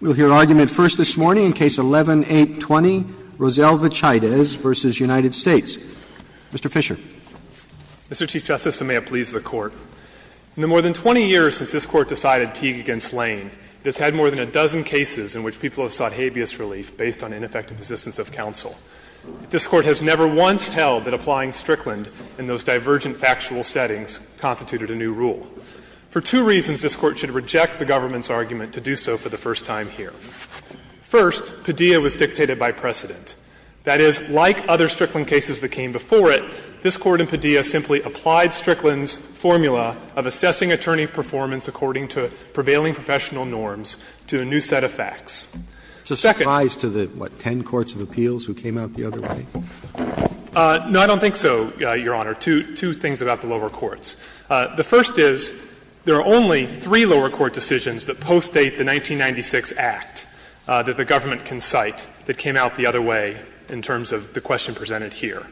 We'll hear argument first this morning in Case 11-820, Roselle Vachaidez v. United States. Mr. Fisher. Mr. Chief Justice, and may it please the Court, In the more than 20 years since this Court decided Teague against Lane, it has had more than a dozen cases in which people have sought habeas relief based on ineffective assistance of counsel. This Court has never once held that applying Strickland in those divergent factual settings constituted a new rule. For two reasons, this Court should reject the government's argument to do so for the first time here. First, Padilla was dictated by precedent. That is, like other Strickland cases that came before it, this Court in Padilla simply applied Strickland's formula of assessing attorney performance according to prevailing professional norms to a new set of facts. Second. Roberts. It's a surprise to the, what, ten courts of appeals who came out the other way? No, I don't think so, Your Honor. Two things about the lower courts. The first is there are only three lower court decisions that postdate the 1996 Act that the government can cite that came out the other way in terms of the question presented here.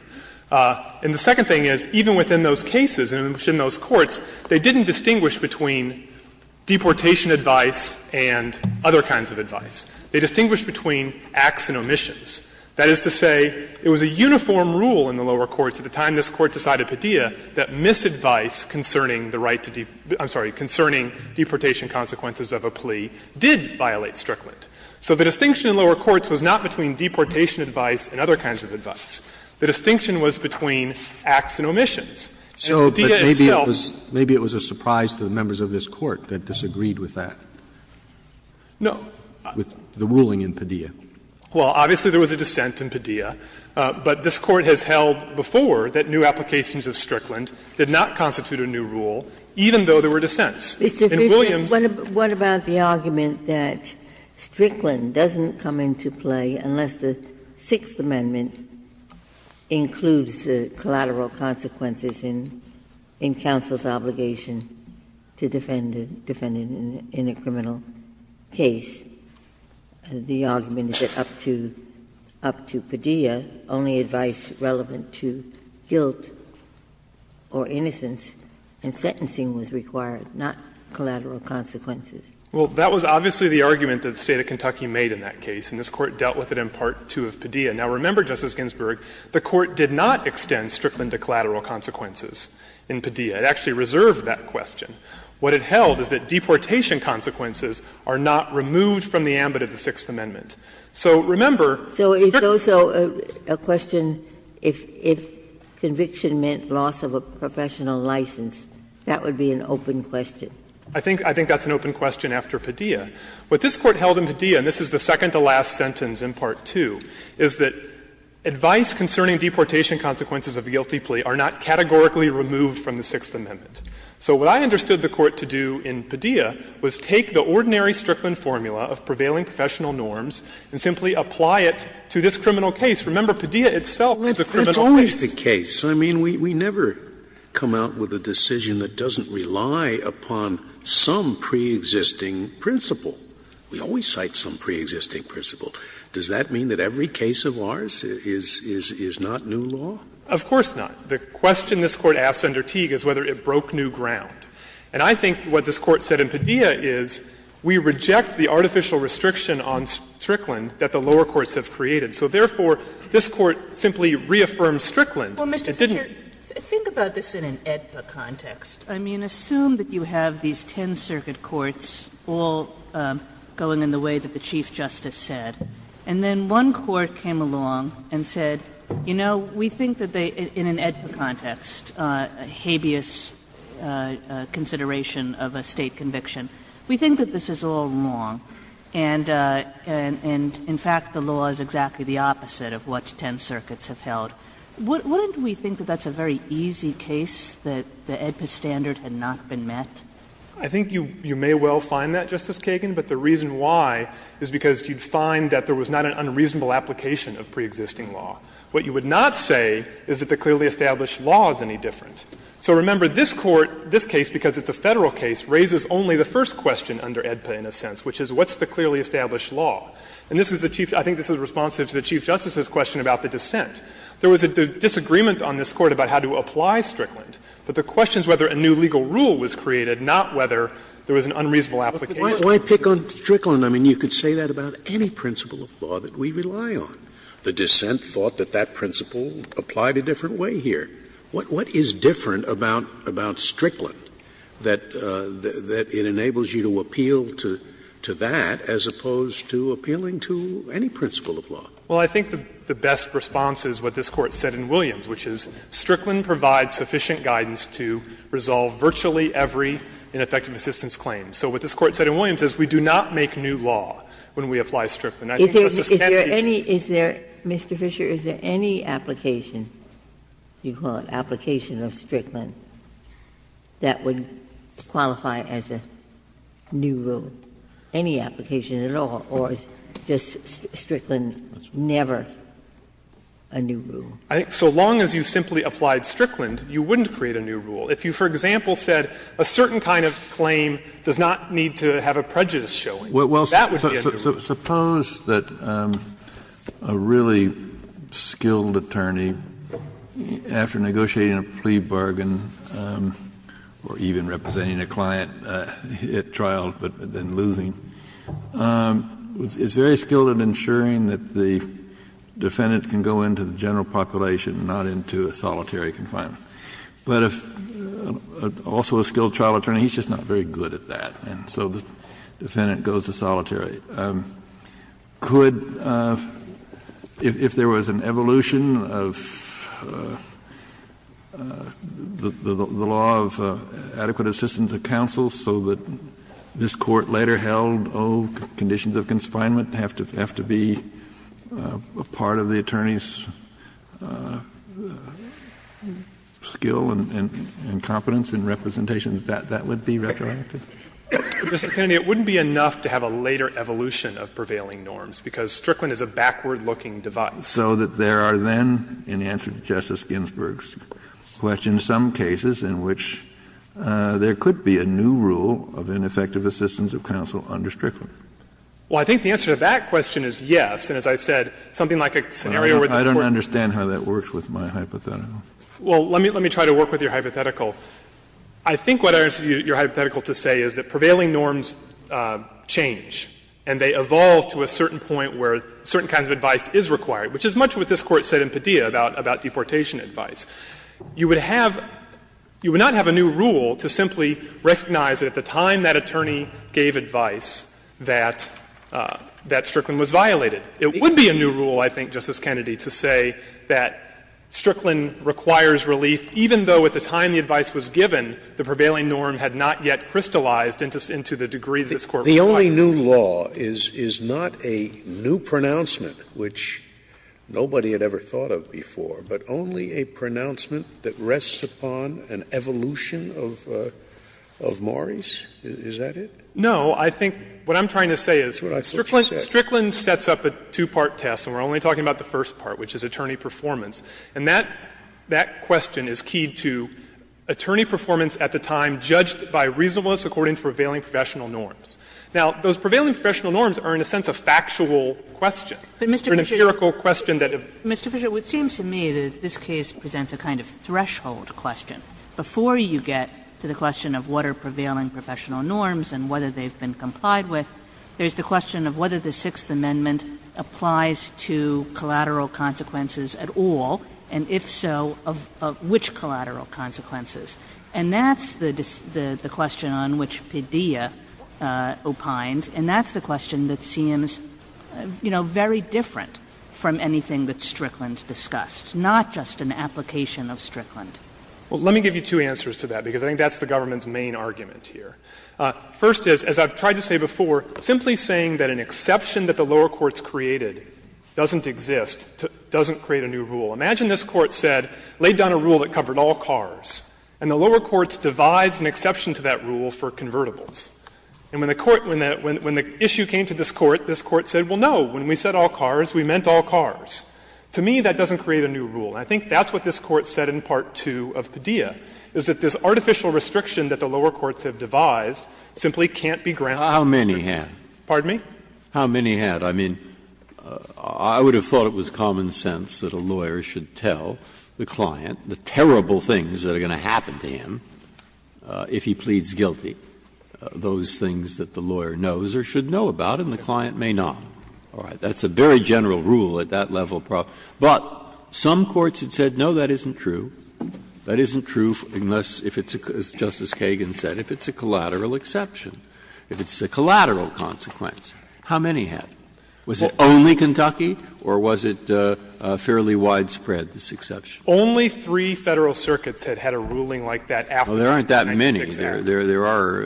And the second thing is, even within those cases, even within those courts, they didn't distinguish between deportation advice and other kinds of advice. They distinguished between acts and omissions. That is to say, it was a uniform rule in the lower courts at the time this Court decided Padilla that misadvice concerning the right to deep – I'm sorry, concerning deportation consequences of a plea did violate Strickland. So the distinction in lower courts was not between deportation advice and other kinds of advice. The distinction was between acts and omissions. And Padilla itself – So maybe it was a surprise to the members of this Court that disagreed with that? No. With the ruling in Padilla. Well, obviously there was a dissent in Padilla. But this Court has held before that new applications of Strickland did not constitute a new rule, even though there were dissents. In Williams' case – What about the argument that Strickland doesn't come into play unless the Sixth Amendment includes the collateral consequences in counsel's obligation to defend a defendant in a criminal case? The argument is that up to – up to Padilla, only advice relevant to guilt or innocence and sentencing was required, not collateral consequences. Well, that was obviously the argument that the State of Kentucky made in that case, and this Court dealt with it in Part 2 of Padilla. Now, remember, Justice Ginsburg, the Court did not extend Strickland to collateral consequences in Padilla. It actually reserved that question. What it held is that deportation consequences are not removed from the ambit of the Sixth Amendment. So, remember – Ginsburg's question, if conviction meant loss of a professional license, that would be an open question. I think that's an open question after Padilla. What this Court held in Padilla, and this is the second-to-last sentence in Part 2, is that advice concerning deportation consequences of guilty plea are not categorically removed from the Sixth Amendment. So what I understood the Court to do in Padilla was take the ordinary Strickland formula of prevailing professional norms and simply apply it to this criminal case. Remember, Padilla itself is a criminal case. Scalia, it's always the case. I mean, we never come out with a decision that doesn't rely upon some preexisting principle. We always cite some preexisting principle. Does that mean that every case of ours is not new law? Of course not. The question this Court asked under Teague is whether it broke new ground. And I think what this Court said in Padilla is we reject the artificial restriction on Strickland that the lower courts have created. So, therefore, this Court simply reaffirmed Strickland. It didn't – Kagan. Well, Mr. Fisher, think about this in an AEDPA context. I mean, assume that you have these ten circuit courts all going in the way that the Chief Justice said, and then one court came along and said, you know, we think that they – in an AEDPA context, a habeas consideration of a State conviction. We think that this is all wrong, and in fact, the law is exactly the opposite of what ten circuits have held. Wouldn't we think that that's a very easy case, that the AEDPA standard had not been met? Fisher, I think you may well find that, Justice Kagan, but the reason why is because you'd find that there was not an unreasonable application of preexisting law. What you would not say is that the clearly established law is any different. So, remember, this Court, this case, because it's a Federal case, raises only the first question under AEDPA in a sense, which is what's the clearly established law? And this is the Chief – I think this is responsive to the Chief Justice's question about the dissent. There was a disagreement on this Court about how to apply Strickland, but the question is whether a new legal rule was created, not whether there was an unreasonable application. Scalia. Why pick on Strickland? I mean, you could say that about any principle of law that we rely on. The dissent thought that that principle applied a different way here. What is different about Strickland that it enables you to appeal to that as opposed to appealing to any principle of law? Fisher, I think the best response is what this Court said in Williams, which is Strickland provides sufficient guidance to resolve virtually every ineffective assistance claim. So what this Court said in Williams is we do not make new law when we apply Strickland. And I think Justice Kennedy Is there any – is there, Mr. Fisher, is there any application, you call it application of Strickland, that would qualify as a new rule, any application at all, or is just Strickland never a new rule? I think so long as you simply applied Strickland, you wouldn't create a new rule. If you, for example, said a certain kind of claim does not need to have a prejudice showing, that would be a new rule. Suppose that a really skilled attorney, after negotiating a plea bargain, or even representing a client at trial but then losing, is very skilled at ensuring that the defendant can go into the general population, not into a solitary confinement. But if also a skilled trial attorney, he's just not very good at that, and so the question is, could – if there was an evolution of the law of adequate assistance of counsel so that this Court later held, oh, conditions of confinement have to be part of the attorney's skill and competence in representation, that would be retroactive? Mr. Kennedy, it wouldn't be enough to have a later evolution of prevailing norms, because Strickland is a backward-looking device. So that there are then, in answer to Justice Ginsburg's question, some cases in which there could be a new rule of ineffective assistance of counsel under Strickland? Well, I think the answer to that question is yes. And as I said, something like a scenario where the Court – I don't understand how that works with my hypothetical. Well, let me try to work with your hypothetical. I think what I understood your hypothetical to say is that prevailing norms change, and they evolve to a certain point where certain kinds of advice is required, which is much what this Court said in Padilla about deportation advice. You would have – you would not have a new rule to simply recognize that at the time that attorney gave advice that Strickland was violated. It would be a new rule, I think, Justice Kennedy, to say that Strickland requires relief, even though at the time the advice was given, the prevailing norm had not yet crystallized into the degree that this Court requires relief. The only new law is not a new pronouncement, which nobody had ever thought of before, but only a pronouncement that rests upon an evolution of Maury's? Is that it? No. I think what I'm trying to say is Strickland sets up a two-part test, and we're only talking about the first part, which is attorney performance. And that question is key to attorney performance at the time judged by reasonableness according to prevailing professional norms. Now, those prevailing professional norms are, in a sense, a factual question. They're an empirical question that have been asked. Kagan, Mr. Fisher, it seems to me that this case presents a kind of threshold question. Before you get to the question of what are prevailing professional norms and whether they've been complied with, there's the question of whether the Sixth Amendment applies to collateral consequences at all, and if so, of which collateral consequences. And that's the question on which Padilla opines, and that's the question that seems, you know, very different from anything that Strickland's discussed, not just an application of Strickland. Fisher, Well, let me give you two answers to that, because I think that's the government's main argument here. First is, as I've tried to say before, simply saying that an exception that the lower courts created doesn't exist, doesn't create a new rule. Imagine this Court said, laid down a rule that covered all cars, and the lower courts devised an exception to that rule for convertibles. And when the Court — when the issue came to this Court, this Court said, well, no, when we said all cars, we meant all cars. To me, that doesn't create a new rule. And I think that's what this Court said in Part 2 of Padilla, is that this artificial restriction. Breyer. How many had? Pardon me? How many had? I mean, I would have thought it was common sense that a lawyer should tell the client the terrible things that are going to happen to him if he pleads guilty, those things that the lawyer knows or should know about, and the client may not. All right. That's a very general rule at that level. But some courts had said, no, that isn't true. That isn't true unless, if it's — as Justice Kagan said, if it's a collateral exception, if it's a collateral consequence, how many had? Was it only Kentucky, or was it fairly widespread, this exception? Only three Federal circuits had had a ruling like that after the 1996 Act. Well, there aren't that many. There are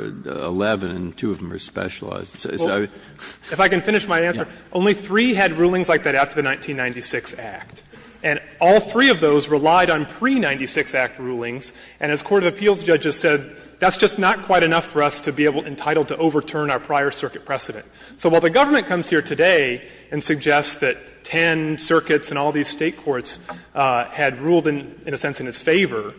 11, and two of them are specialized. If I can finish my answer, only three had rulings like that after the 1996 Act. And all three of those relied on pre-'96 Act rulings. And as court of appeals judges said, that's just not quite enough for us to be able to be entitled to overturn our prior circuit precedent. So while the government comes here today and suggests that 10 circuits and all these State courts had ruled in a sense in its favor,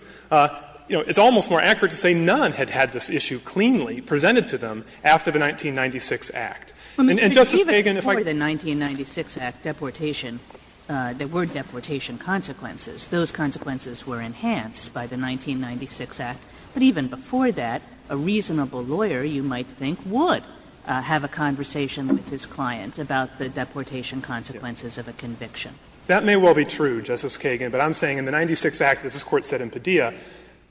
you know, it's almost more accurate to say none had had this issue cleanly presented to them after the 1996 Act. And, Justice Kagan, if I could go back to the 1996 Act deportation, there were deportation consequences. Those consequences were enhanced by the 1996 Act. But even before that, a reasonable lawyer, you might think, would have a conversation with his client about the deportation consequences of a conviction. That may well be true, Justice Kagan, but I'm saying in the 1996 Act, as this Court said in Padilla,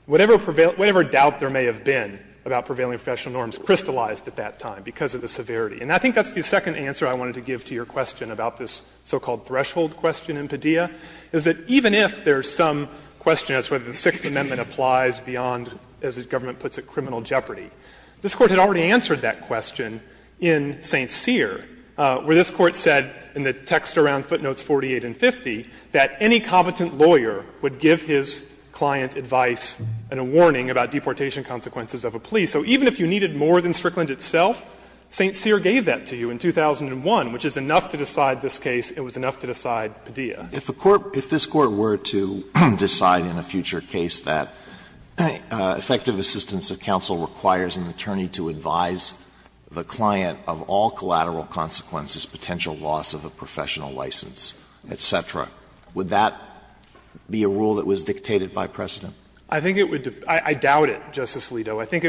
whatever doubt there may have been about prevailing professional norms crystallized at that time because of the severity. And I think that's the second answer I wanted to give to your question about this so-called threshold question in Padilla, is that even if there's some question as to whether the Sixth Amendment applies beyond, as the government puts it, criminal jeopardy, this Court had already answered that question in St. Cyr, where this Court said in the text around footnotes 48 and 50 that any competent lawyer would give his client advice and a warning about deportation consequences of a plea. So even if you needed more than Strickland itself, St. Cyr gave that to you in 2001, which is enough to decide this case, it was enough to decide Padilla. Alito, I think it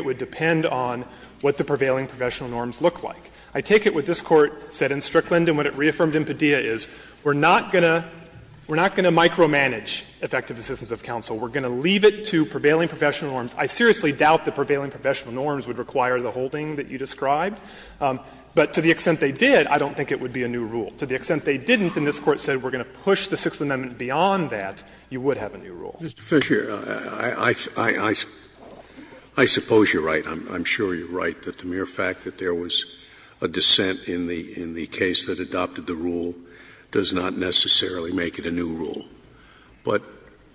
would depend on what the prevailing professional norms look like. I take it what this Court said in Strickland and what it reaffirmed in Padilla is we're not going to micromanage effective assistance of counsel. We're going to leave it to prevailing professional norms. I seriously doubt that prevailing professional norms would require the holding that you described. But to the extent they did, I don't think it would be a new rule. To the extent they didn't and this Court said we're going to push the Sixth Amendment beyond that, you would have a new rule. Scalia, I suppose you're right. I'm sure you're right that the mere fact that there was a dissent in the case that adopted the rule does not necessarily make it a new rule. But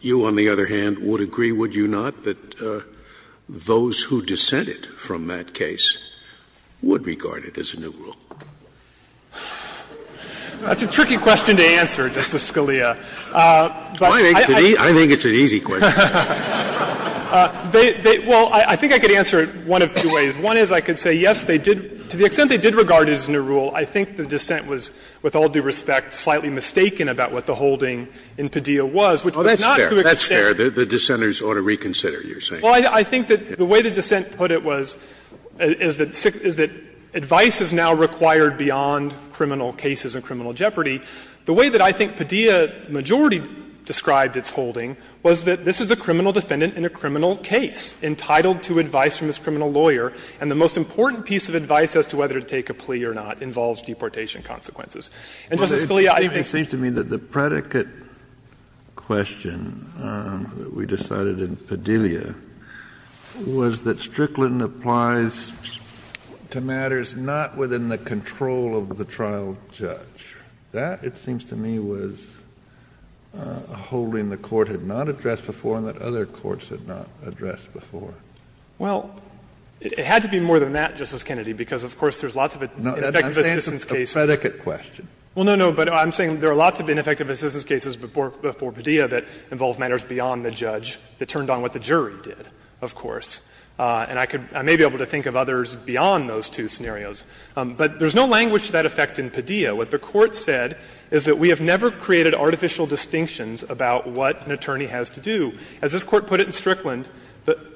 you, on the other hand, would agree, would you not, that those who dissented from that case would regard it as a new rule? That's a tricky question to answer, Justice Scalia. I think it's an easy question. Well, I think I could answer it one of two ways. One is I could say, yes, they did, to the extent they did regard it as a new rule, I think the dissent was, with all due respect, slightly mistaken about what the holding in Padilla was, which was not to the extent. Scalia, that's fair. The dissenters ought to reconsider, you're saying. Well, I think that the way the dissent put it was, is that advice is now required beyond criminal cases and criminal jeopardy. The way that I think Padilla majority described its holding was that this is a criminal defendant in a criminal case entitled to advice from this criminal lawyer, and the most important piece of advice as to whether to take a plea or not involves deportation consequences. And, Justice Scalia, I think that's fair. Kennedy, it seems to me that the predicate question that we decided in Padilla was that Strickland applies to matters not within the control of the trial judge. That, it seems to me, was a holding the Court had not addressed before and that other courts had not addressed before. Well, it had to be more than that, Justice Kennedy, because, of course, there's lots of ineffective assistance cases. No, I'm saying it's a predicate question. Well, no, no, but I'm saying there are lots of ineffective assistance cases before Padilla that involve matters beyond the judge that turned on what the jury did, of course. And I could — I may be able to think of others beyond those two scenarios. But there's no language to that effect in Padilla. What the Court said is that we have never created artificial distinctions about what an attorney has to do. As this Court put it in Strickland,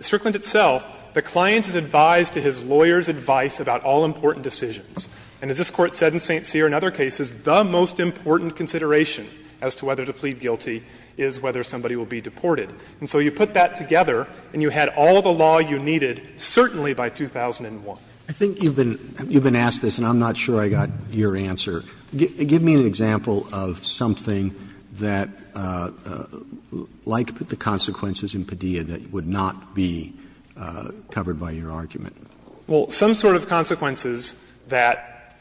Strickland itself, the client is advised to his lawyer's advice about all important decisions. And as this Court said in St. Cyr and other cases, the most important consideration as to whether to plead guilty is whether somebody will be deported. And so you put that together and you had all the law you needed, certainly by 2001. Roberts I think you've been asked this, and I'm not sure I got your answer. Give me an example of something that, like the consequences in Padilla, that would not be covered by your argument. Fisher Well, some sort of consequences that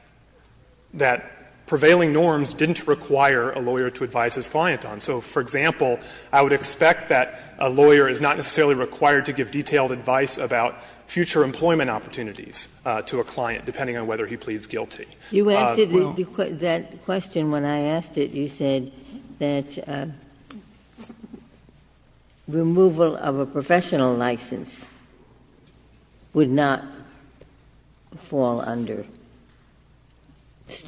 prevailing norms didn't require a lawyer to advise his client on. So, for example, I would expect that a lawyer is not necessarily required to give detailed advice about future employment opportunities. To a client, depending on whether he pleads guilty. Ginsburg You answered that question when I asked it. You said that removal of a professional license would not fall under,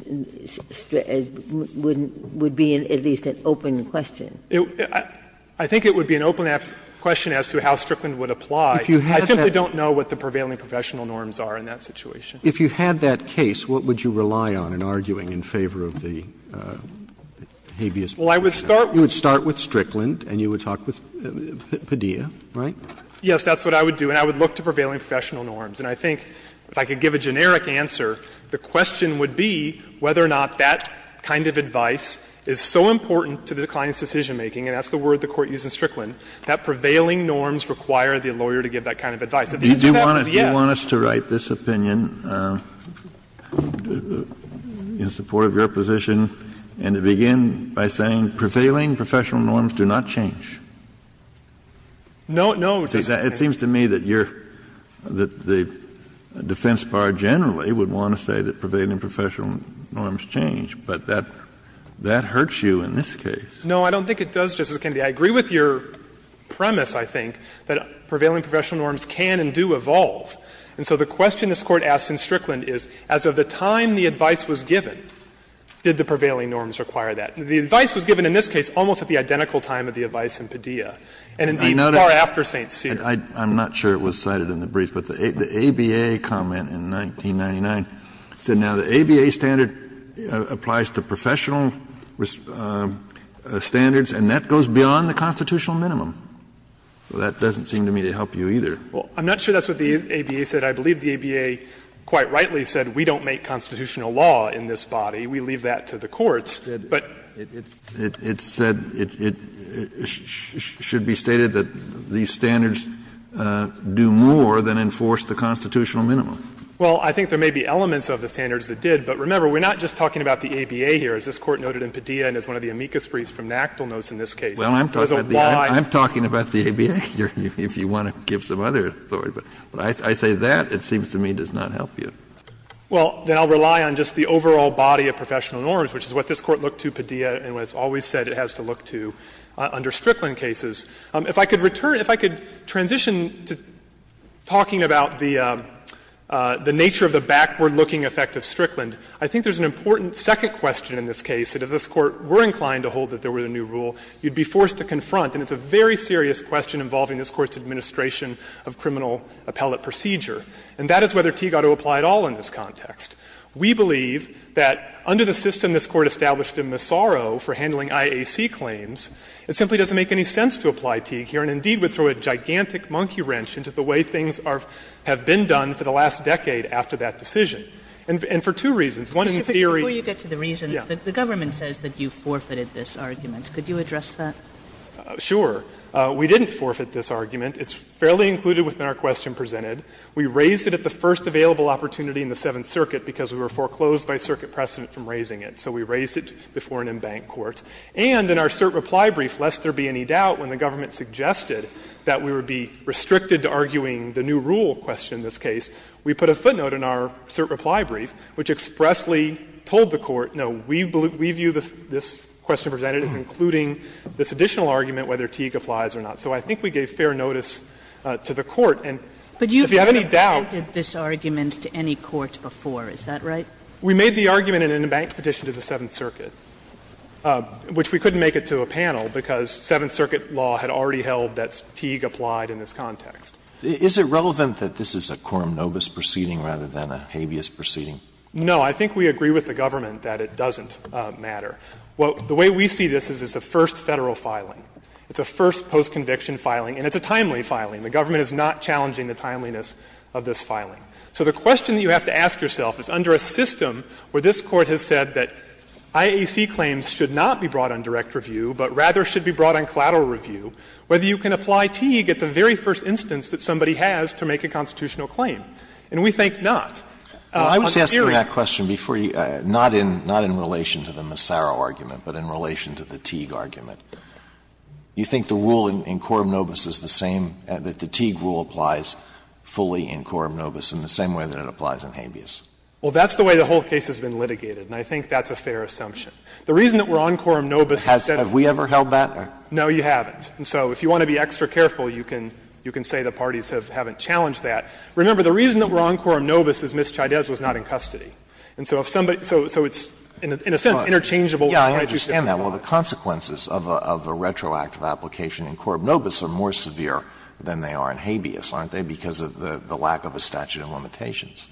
would be at least an open question. Fisher I think it would be an open question as to how Strickland would apply. I simply don't know what the prevailing professional norms are. I don't know what the prevailing professional norms are in that situation. Roberts If you had that case, what would you rely on in arguing in favor of the habeas proposal? Fisher Well, I would start with Strickland and you would talk with Padilla, right? Yes, that's what I would do, and I would look to prevailing professional norms. And I think if I could give a generic answer, the question would be whether or not that kind of advice is so important to the client's decisionmaking, and that's the I would like to take this opinion in support of your position and to begin by saying prevailing professional norms do not change. No, no, Justice Kennedy. Kennedy It seems to me that you're, that the defense bar generally would want to say that prevailing professional norms change, but that, that hurts you in this case. Fisher No, I don't think it does, Justice Kennedy. I agree with your premise, I think, that prevailing professional norms can and do evolve. And so the question this Court asked in Strickland is, as of the time the advice was given, did the prevailing norms require that? The advice was given in this case almost at the identical time of the advice in Padilla, and indeed far after St. Cyr. Kennedy I'm not sure it was cited in the brief, but the ABA comment in 1999 said now the ABA standard applies to professional standards, and that goes beyond the constitutional minimum. So that doesn't seem to me to help you either. Fisher Well, I'm not sure that's what the ABA said. I believe the ABA quite rightly said we don't make constitutional law in this body. We leave that to the courts. But Kennedy It said, it should be stated that these standards do more than enforce the constitutional minimum. Fisher Well, I think there may be elements of the standards that did. But remember, we're not just talking about the ABA here. As this Court noted in Padilla and as one of the amicus fris from NACDL notes in this case, there's a wide Kennedy I'm talking about the ABA here, if you want to give some other authority. But when I say that, it seems to me does not help you. Fisher Well, then I'll rely on just the overall body of professional norms, which is what this Court looked to Padilla and what it's always said it has to look to under Strickland cases. If I could return, if I could transition to talking about the nature of the backward looking effect of Strickland, I think there's an important second question in this case that if this Court were inclined to hold that there was a new rule, you'd be forced to confront. And it's a very serious question involving this Court's administration of criminal appellate procedure. And that is whether Teague ought to apply at all in this context. We believe that under the system this Court established in Massaro for handling IAC claims, it simply doesn't make any sense to apply Teague here and indeed would throw a gigantic monkey wrench into the way things have been done for the last decade after that decision, and for two reasons. One in theory Kagan Before you get to the reasons, the government says that you forfeited this argument. Could you address that? Sure. We didn't forfeit this argument. It's fairly included within our question presented. We raised it at the first available opportunity in the Seventh Circuit because we were foreclosed by circuit precedent from raising it. So we raised it before an embanked court. And in our cert reply brief, lest there be any doubt when the government suggested that we would be restricted to arguing the new rule question in this case, we put a footnote in our cert reply brief which expressly told the Court, no, we view this question presented as including this additional argument whether Teague applies or not. So I think we gave fair notice to the Court. And if you have any doubt But you've never presented this argument to any court before, is that right? We made the argument in an embanked petition to the Seventh Circuit, which we couldn't make it to a panel because Seventh Circuit law had already held that Teague applied in this context. Is it relevant that this is a quorum nobis proceeding rather than a habeas proceeding? No. I think we agree with the government that it doesn't matter. The way we see this is it's a first Federal filing. It's a first post-conviction filing, and it's a timely filing. The government is not challenging the timeliness of this filing. So the question that you have to ask yourself is under a system where this Court has said that IAC claims should not be brought on direct review, but rather should be brought on collateral review, whether you can apply Teague at the very first instance that somebody has to make a constitutional claim. And we think not. On theory. Alito, before you answer that question, before you go, not in relation to the Massaro argument, but in relation to the Teague argument, do you think the rule in quorum nobis is the same, that the Teague rule applies fully in quorum nobis in the same way that it applies in habeas? Well, that's the way the whole case has been litigated, and I think that's a fair assumption. The reason that we're on quorum nobis is that it's not in custody. Have we ever held that? No, you haven't. And so if you want to be extra careful, you can say the parties haven't challenged that. Remember, the reason that we're on quorum nobis is Ms. Chaydez was not in custody. And so if somebody so it's in a sense interchangeable. Alito, I understand that. Well, the consequences of a retroactive application in quorum nobis are more severe than they are in habeas, aren't they, because of the lack of a statute of limitations?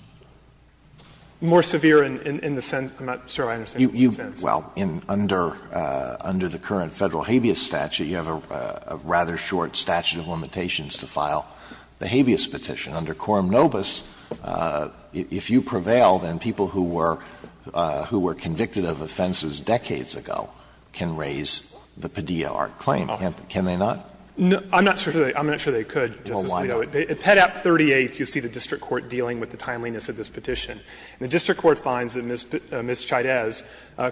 More severe in the sense, I'm not sure I understand the sense. Well, under the current Federal habeas statute, you have a rather short statute of limitations to file the habeas petition. Under quorum nobis, if you prevail, then people who were convicted of offenses decades ago can raise the Padilla Art claim, can't they not? No, I'm not sure they could, Justice Alito. Well, why not? At Pet. 38, you see the district court dealing with the timeliness of this petition. And the district court finds that Ms. Chaydez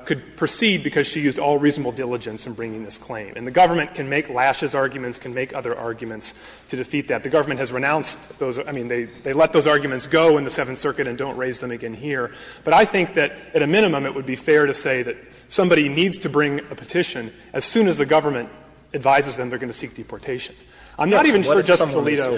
could proceed because she used all reasonable diligence in bringing this claim. And the government can make lashes arguments, can make other arguments to defeat that. The government has renounced those — I mean, they let those arguments go in the Seventh Circuit and don't raise them again here. But I think that at a minimum it would be fair to say that somebody needs to bring a petition. As soon as the government advises them, they're going to seek deportation. I'm not even sure, Justice Alito.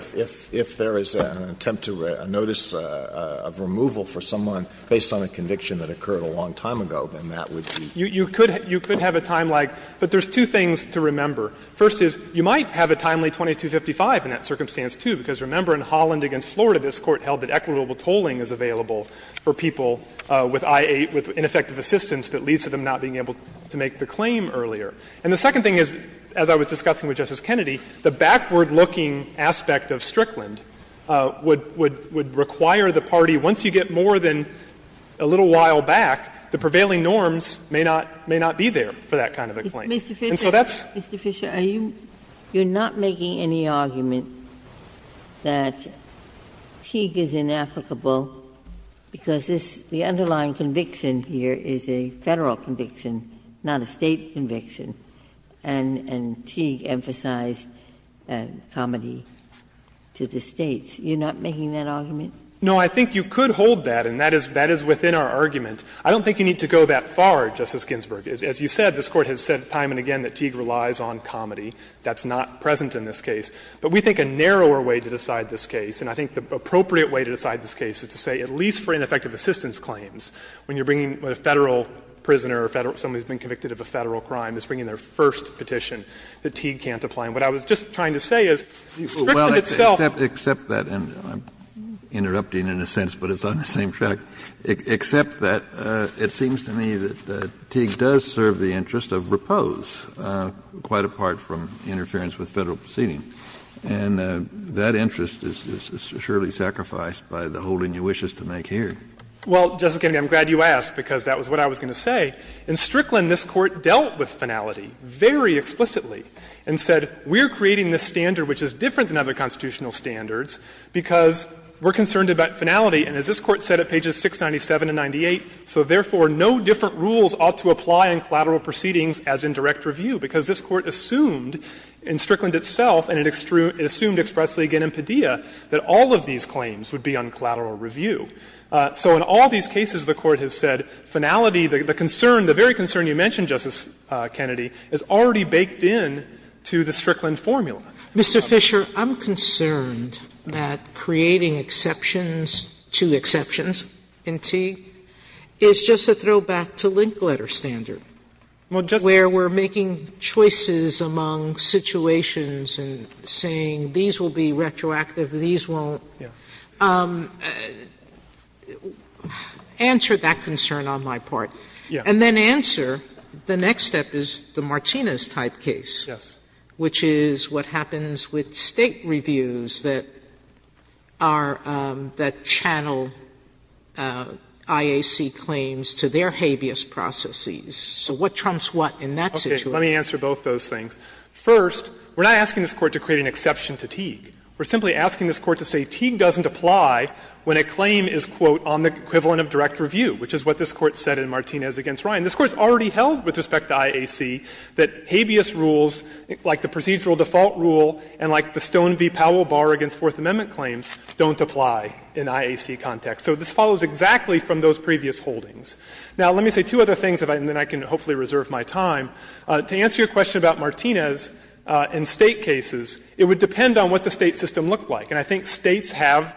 If there is an attempt to — a notice of removal for someone based on a conviction that occurred a long time ago, then that would be. You could have a timelike, but there's two things to remember. First is, you might have a timely 2255 in that circumstance, too, because, remember, in Holland v. Florida, this Court held that equitable tolling is available for people with I-8, with ineffective assistance that leads to them not being able to make the claim earlier. And the second thing is, as I was discussing with Justice Kennedy, the backward-looking aspect of Strickland would require the party, once you get more than a little while back, the prevailing norms may not be there for that kind of a claim. And so that's — Ginsburg-Mills, Mr. Fisher, are you — you're not making any argument that Teague is inapplicable because this — the underlying conviction here is a Federal conviction, not a State conviction, and Teague emphasized comity to the States. You're not making that argument? Fisher, No, I think you could hold that, and that is within our argument. I don't think you need to go that far, Justice Ginsburg. As you said, this Court has said time and again that Teague relies on comity. That's not present in this case. But we think a narrower way to decide this case, and I think the appropriate way to decide this case is to say at least for ineffective assistance claims, when you're bringing a Federal prisoner or someone who's been convicted of a Federal crime is bringing their first petition that Teague can't apply. And what I was just trying to say is, Strickland itself— Kennedy, except that — and I'm interrupting in a sense, but it's on the same track — except that it seems to me that Teague does serve the interest of repose, quite apart from interference with Federal proceeding. And that interest is surely sacrificed by the holding you wish us to make here. Well, Justice Kennedy, I'm glad you asked, because that was what I was going to say. In Strickland, this Court dealt with finality very explicitly and said, we're creating this standard which is different than other constitutional standards because we're in Strictlyn 96, 97, and 98, so therefore no different rules ought to apply in collateral proceedings as in direct review, because this Court assumed in Strickland itself and it assumed expressly again in Padilla that all of these claims would be on collateral review. So in all these cases, the Court has said finality, the concern, the very concern you mentioned, Justice Kennedy, is already baked into the Strickland formula. Mr. Fisher, I'm concerned that creating exceptions to exceptions in Teague is just a throwback to link letter standard, where we're making choices among situations and saying these will be retroactive, these won't. Answer that concern on my part, and then answer the next step is the Martinez type case, which is what happens with State reviews that are the channel IAC claims to their habeas processes. So what trumps what in that situation? Fisher, let me answer both those things. First, we're not asking this Court to create an exception to Teague. We're simply asking this Court to say Teague doesn't apply when a claim is, quote, on the equivalent of direct review, which is what this Court said in Martinez v. Ryan. And this Court's already held with respect to IAC that habeas rules, like the procedural default rule and like the Stone v. Powell bar against Fourth Amendment claims, don't apply in IAC context. So this follows exactly from those previous holdings. Now, let me say two other things, and then I can hopefully reserve my time. To answer your question about Martinez in State cases, it would depend on what the State system looked like. And I think States have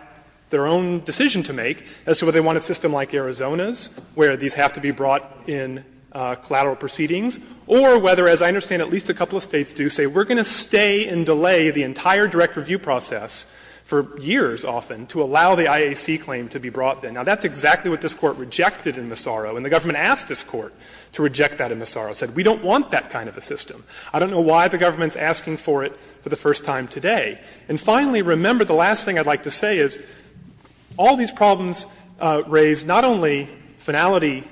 their own decision to make as to whether they want a system like Arizona's, where these have to be brought in collateral proceedings, or whether, as I understand at least a couple of States do, say we're going to stay and delay the entire direct review process for years, often, to allow the IAC claim to be brought in. Now, that's exactly what this Court rejected in Massaro. And the government asked this Court to reject that in Massaro, said we don't want that kind of a system. I don't know why the government's asking for it for the first time today. And finally, remember, the last thing I'd like to say is all these problems raised not only finality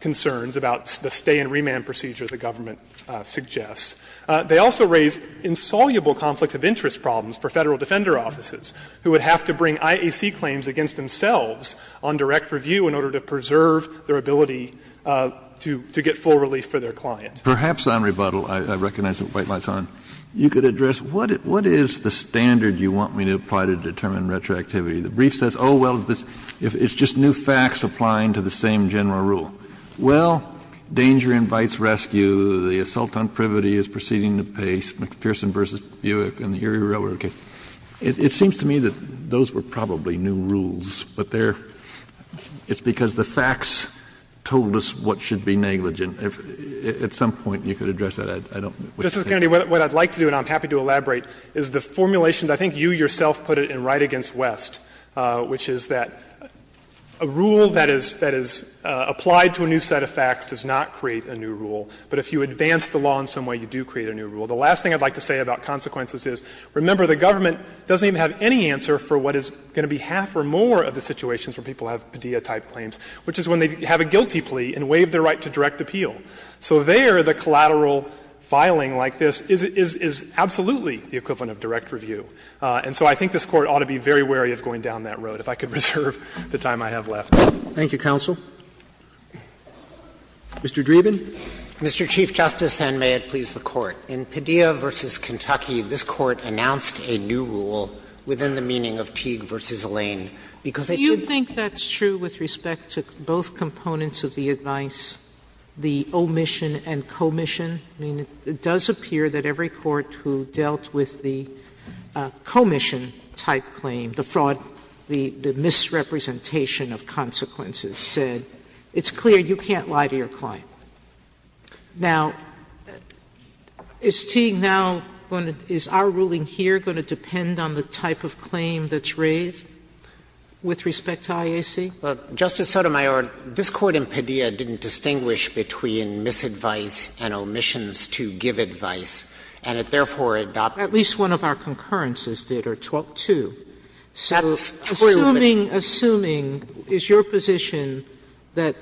concerns about the stay and remand procedure the government suggests. They also raise insoluble conflict of interest problems for Federal defender offices, who would have to bring IAC claims against themselves on direct review in order to preserve their ability to get full relief for their client. Kennedy, perhaps on rebuttal, I recognize the white light's on, you could address what is the standard you want me to apply to determine retroactivity? The brief says, oh, well, it's just new facts applying to the same general rule. Well, danger invites rescue, the assault on privity is proceeding at pace, McPherson v. Buick and the Erie Railroad case. It seems to me that those were probably new rules, but they're — it's because the facts told us what should be negligent. If at some point you could address that, I don't know what you think. Justice Kennedy, what I'd like to do, and I'm happy to elaborate, is the formulation that I think you yourself put it in Wright v. West, which is that a rule that is — that is applied to a new set of facts does not create a new rule. But if you advance the law in some way, you do create a new rule. The last thing I'd like to say about consequences is, remember, the government doesn't even have any answer for what is going to be half or more of the situations where people have pediatric claims, which is when they have a guilty plea and waive their right to direct appeal. So there, the collateral filing like this is absolutely the equivalent of direct review. And so I think this Court ought to be very wary of going down that road, if I could reserve the time I have left. Roberts Mr. Dreeben. Dreeben, Mr. Chief Justice, and may it please the Court. In Padilla v. Kentucky, this Court announced a new rule within the meaning of Teague v. Lane, because it did— Sotomayor Do you think that's true with respect to both components of the advice, the omission and commission? I mean, it does appear that every court who dealt with the commission-type claim, the fraud, the misrepresentation of consequences said, it's clear you can't lie to your client. Now, is Teague now going to — is our ruling here going to depend on the type of claim that's raised with respect to IAC? Justice Sotomayor, this Court in Padilla didn't distinguish between misadvice and omissions to give advice, and it therefore adopted— Sotomayor At least one of our concurrences did, or two. So assuming— Dreeben That's true, but— Sotomayor —assuming, is your position that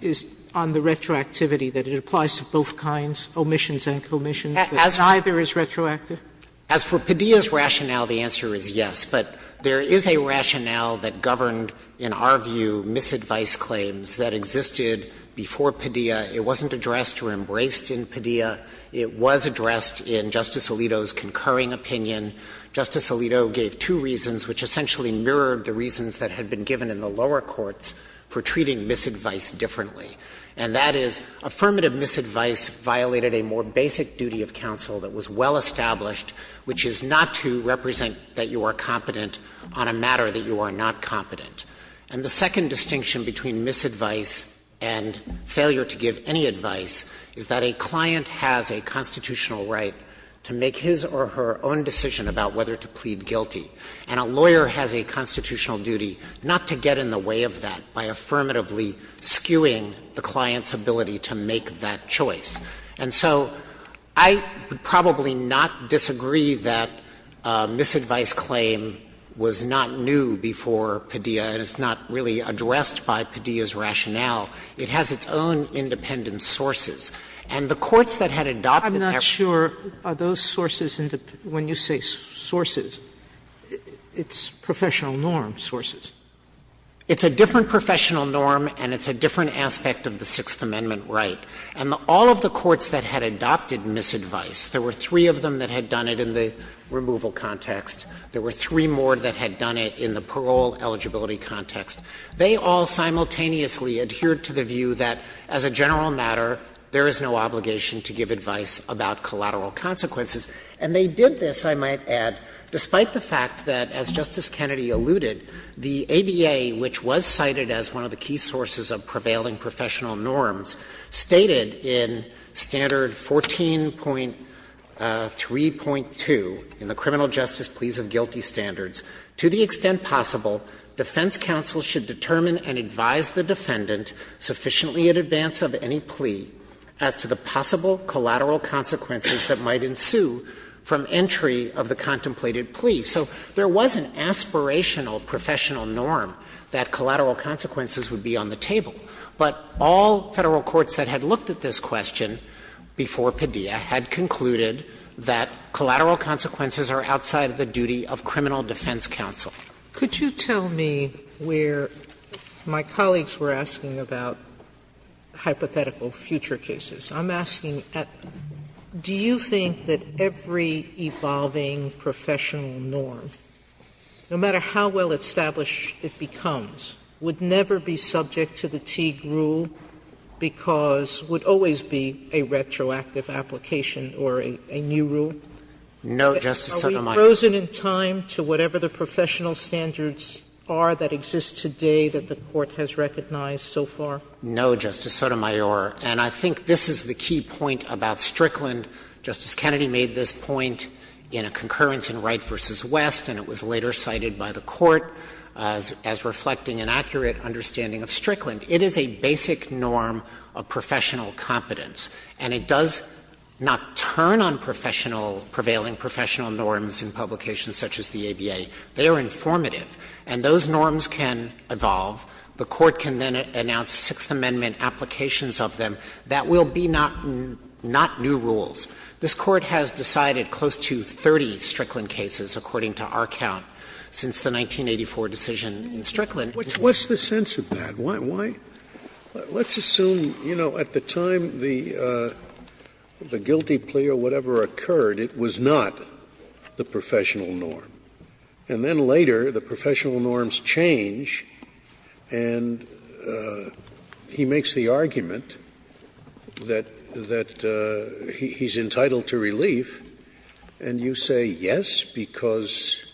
is on the retroactivity, that it applies to both kinds, omissions and commissions, that neither is retroactive? Dreeben As for Padilla's rationale, the answer is yes. But there is a rationale that governed, in our view, misadvice claims that existed before Padilla. It wasn't addressed or embraced in Padilla. It was addressed in Justice Alito's concurring opinion. Justice Alito gave two reasons which essentially mirrored the reasons that had been given in the lower courts for treating misadvice differently. And that is, affirmative misadvice violated a more basic duty of counsel that was well established, which is not to represent that you are competent on a matter that you are not competent. And the second distinction between misadvice and failure to give any advice is that a client has a constitutional right to make his or her own decision about whether to plead guilty. And a lawyer has a constitutional duty not to get in the way of that by affirmatively skewing the client's ability to make that choice. And so I would probably not disagree that a misadvice claim was not new before Padilla, and it's not really addressed by Padilla's rationale. It has its own independent sources. And the courts that had adopted that right. Sotomayor, I'm not sure, are those sources, when you say sources, it's professional norm sources. It's a different professional norm and it's a different aspect of the Sixth Amendment right. And all of the courts that had adopted misadvice, there were three of them that had done it in the removal context. There were three more that had done it in the parole eligibility context. They all simultaneously adhered to the view that as a general matter, there is no obligation to give advice about collateral consequences. And they did this, I might add, despite the fact that, as Justice Kennedy alluded, the ABA, which was cited as one of the key sources of prevailing professional norms, stated in Standard 14.3.2, in the Criminal Justice Pleasancy Act, that the defense counsel should determine and advise the defendant sufficiently in advance of any plea as to the possible collateral consequences that might ensue from entry of the contemplated plea. So there was an aspirational professional norm that collateral consequences would be on the table. But all Federal courts that had looked at this question before Padilla had concluded that collateral consequences are outside of the duty of criminal defense counsel. Sotomayor, could you tell me where my colleagues were asking about hypothetical future cases. I'm asking, do you think that every evolving professional norm, no matter how well established it becomes, would never be subject to the Teague rule because would always be a retroactive application or a new rule? No, Justice Sotomayor. Are we frozen in time to whatever the professional standards are that exist today that the Court has recognized so far? No, Justice Sotomayor. And I think this is the key point about Strickland. Justice Kennedy made this point in a concurrence in Wright v. West, and it was later cited by the Court as reflecting an accurate understanding of Strickland. It is a basic norm of professional competence, and it does not turn on professional – prevailing professional norms in publications such as the ABA. They are informative, and those norms can evolve. The Court can then announce Sixth Amendment applications of them that will be not new rules. This Court has decided close to 30 Strickland cases, according to our count, since the 1984 decision in Strickland. Scalia, what's the sense of that? Why? Let's assume, you know, at the time the guilty plea or whatever occurred, it was not the professional norm. And then later, the professional norms change, and he makes the argument that he's entitled to relief, and you say yes, because?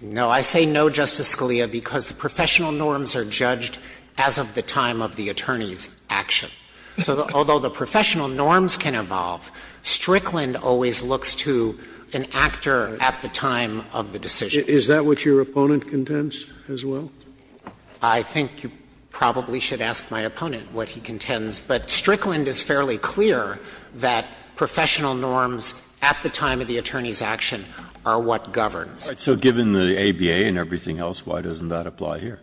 No. I say no, Justice Scalia, because the professional norms are judged as of the time of the attorney's action. So although the professional norms can evolve, Strickland always looks to an actor at the time of the decision. Is that what your opponent contends as well? I think you probably should ask my opponent what he contends. But Strickland is fairly clear that professional norms at the time of the attorney's action are what governs. So given the ABA and everything else, why doesn't that apply here?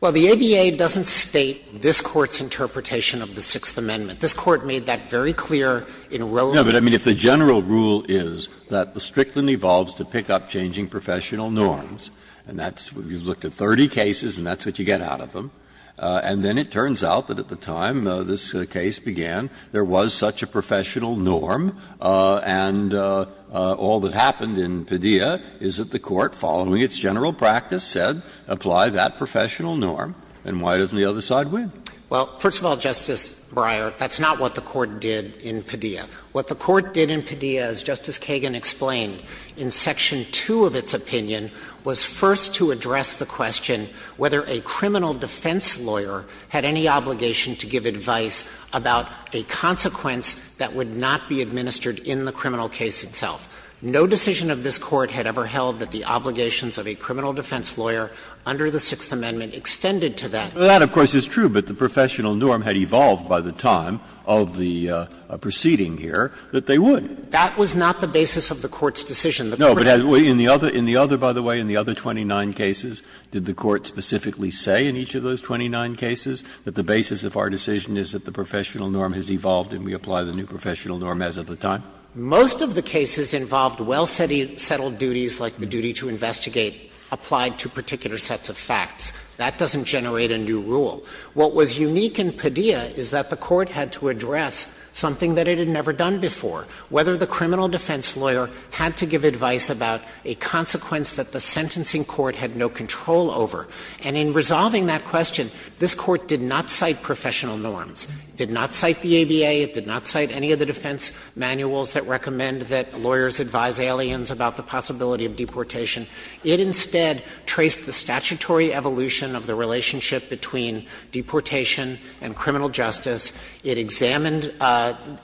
Well, the ABA doesn't state this Court's interpretation of the Sixth Amendment. This Court made that very clear in Roe v. No, but, I mean, if the general rule is that the Strickland evolves to pick up changing professional norms, and that's what you've looked at, 30 cases, and that's what you get out of them, and then it turns out that at the time this case began, there was such a professional norm, and all that happened in Padilla is that the Court, following its general practice, said, apply that professional norm, and why doesn't the other side win? Well, first of all, Justice Breyer, that's not what the Court did in Padilla. What the Court did in Padilla, as Justice Kagan explained, in section 2 of its opinion, was first to address the question whether a criminal defense lawyer had any obligation to give advice about a consequence that would not be administered in the criminal case itself. No decision of this Court had ever held that the obligations of a criminal defense lawyer under the Sixth Amendment extended to that. Breyer, of course, is true, but the professional norm had evolved by the time of the proceeding here that they would. That was not the basis of the Court's decision. No, but in the other, in the other, by the way, in the other 29 cases, did the Court specifically say in each of those 29 cases that the basis of our decision is that the professional norm has evolved and we apply the new professional norm as of the time? Most of the cases involved well-settled duties like the duty to investigate applied to particular sets of facts. That doesn't generate a new rule. What was unique in Padilla is that the Court had to address something that it had never done before, whether the criminal defense lawyer had to give advice about a consequence that the sentencing court had no control over. And in resolving that question, this Court did not cite professional norms. It did not cite the ABA. It did not cite any of the defense manuals that recommend that lawyers advise aliens about the possibility of deportation. It instead traced the statutory evolution of the relationship between deportation and criminal justice. It examined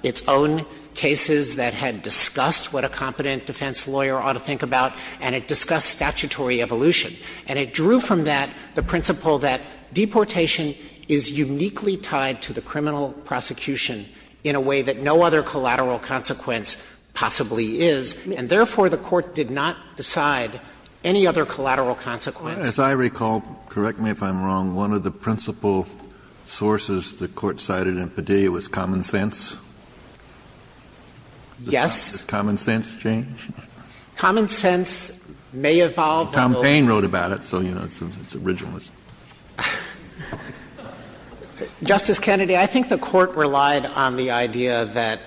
its own cases that had discussed what a competent defense lawyer ought to think about, and it discussed statutory evolution. And it drew from that the principle that deportation is uniquely tied to the criminal prosecution in a way that no other collateral consequence possibly is. And therefore, the Court did not decide any other collateral consequence. Kennedy, as I recall, correct me if I'm wrong, one of the principal sources the Court cited in Padilla was common sense? Yes. Common sense change? Common sense may evolve. Tom Paine wrote about it, so, you know, it's originalist. Justice Kennedy, I think the Court relied on the idea that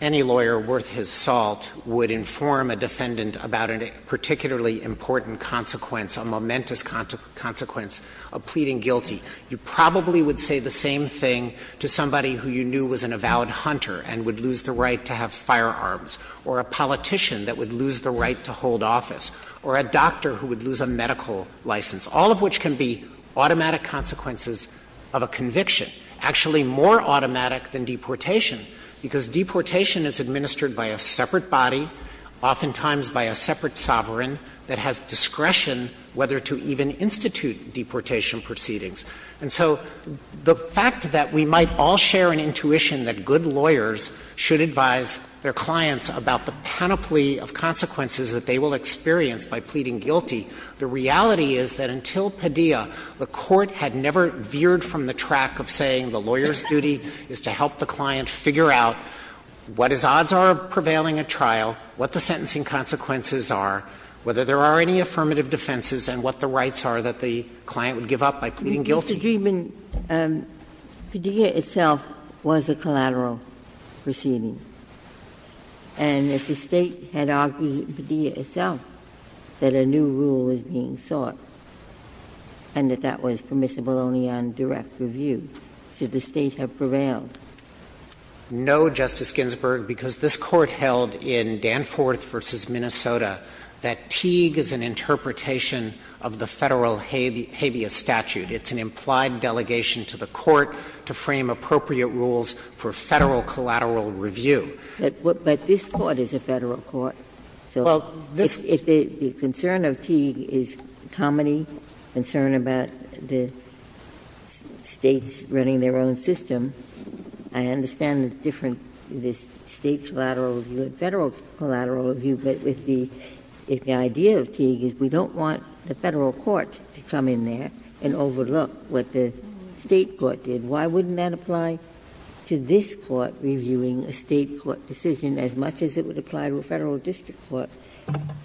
any lawyer worth his salt would inform a defendant about a particularly important consequence, a momentous consequence of pleading guilty. You probably would say the same thing to somebody who you knew was an avowed hunter and would lose the right to have firearms, or a politician that would lose the right to hold office, or a doctor who would lose a medical license, all of which can be automatic consequences of a conviction, actually more automatic than deportation, because deportation is administered by a separate body, oftentimes by a separate sovereign that has discretion whether to even institute deportation proceedings. And so the fact that we might all share an intuition that good lawyers should advise their clients about the panoply of consequences that they will experience by pleading guilty, the reality is that until Padilla, the Court had never veered from the track of saying the lawyer's duty is to help the client figure out what his odds are of prevailing at trial, what the sentencing consequences are, whether there are any affirmative defenses, and what the rights are that the client would give up by pleading guilty. Ginsburg. Mr. Dreeben, Padilla itself was a collateral proceeding. And if the State had argued in Padilla itself that a new rule was being sought and that that was permissible only on direct review, should the State have prevailed? Dreeben. No, Justice Ginsburg, because this Court held in Danforth v. Minnesota that Teague is an interpretation of the Federal habeas statute. It's an implied delegation to the Court to frame appropriate rules for Federal collateral review. But this Court is a Federal court. So if the concern of Teague is comedy, concern about the States running their own system, I understand the difference, the State collateral review and Federal collateral review, but if the idea of Teague is we don't want the Federal court to come in there and overlook what the State court did, why wouldn't that apply to this court reviewing a State court decision as much as it would apply to a Federal district court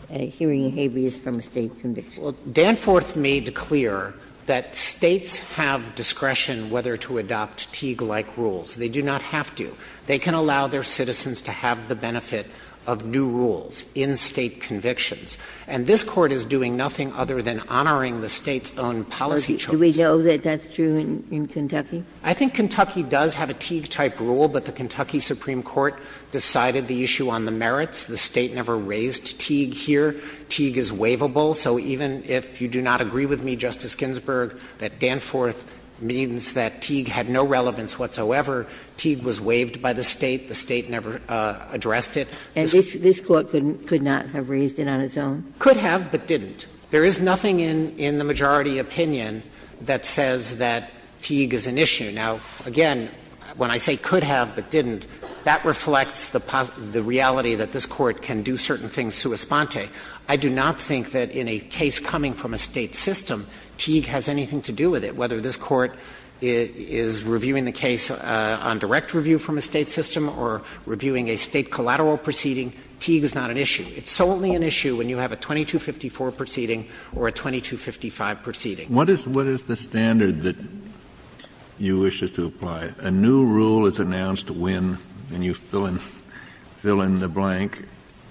hearing a habeas from a State conviction? Well, Danforth made clear that States have discretion whether to adopt Teague-like rules. They do not have to. They can allow their citizens to have the benefit of new rules in State convictions. And this Court is doing nothing other than honoring the State's own policy choices. Do we know that that's true in Kentucky? I think Kentucky does have a Teague-type rule, but the Kentucky Supreme Court decided the issue on the merits. The State never raised Teague here. Teague is waivable. So even if you do not agree with me, Justice Ginsburg, that Danforth means that Teague had no relevance whatsoever, Teague was waived by the State, the State never addressed it. Ginsburg. And this Court could not have raised it on its own? Could have, but didn't. There is nothing in the majority opinion that says that Teague is an issue. Now, again, when I say could have but didn't, that reflects the reality that this Court can do certain things sua sponte. I do not think that in a case coming from a State system, Teague has anything to do with it, whether this Court is reviewing the case on direct review from a State system or reviewing a State collateral proceeding, Teague is not an issue. It's solely an issue when you have a 2254 proceeding or a 2255 proceeding. Kennedy. What is the standard that you wish us to apply? A new rule is announced when, and you fill in the blank,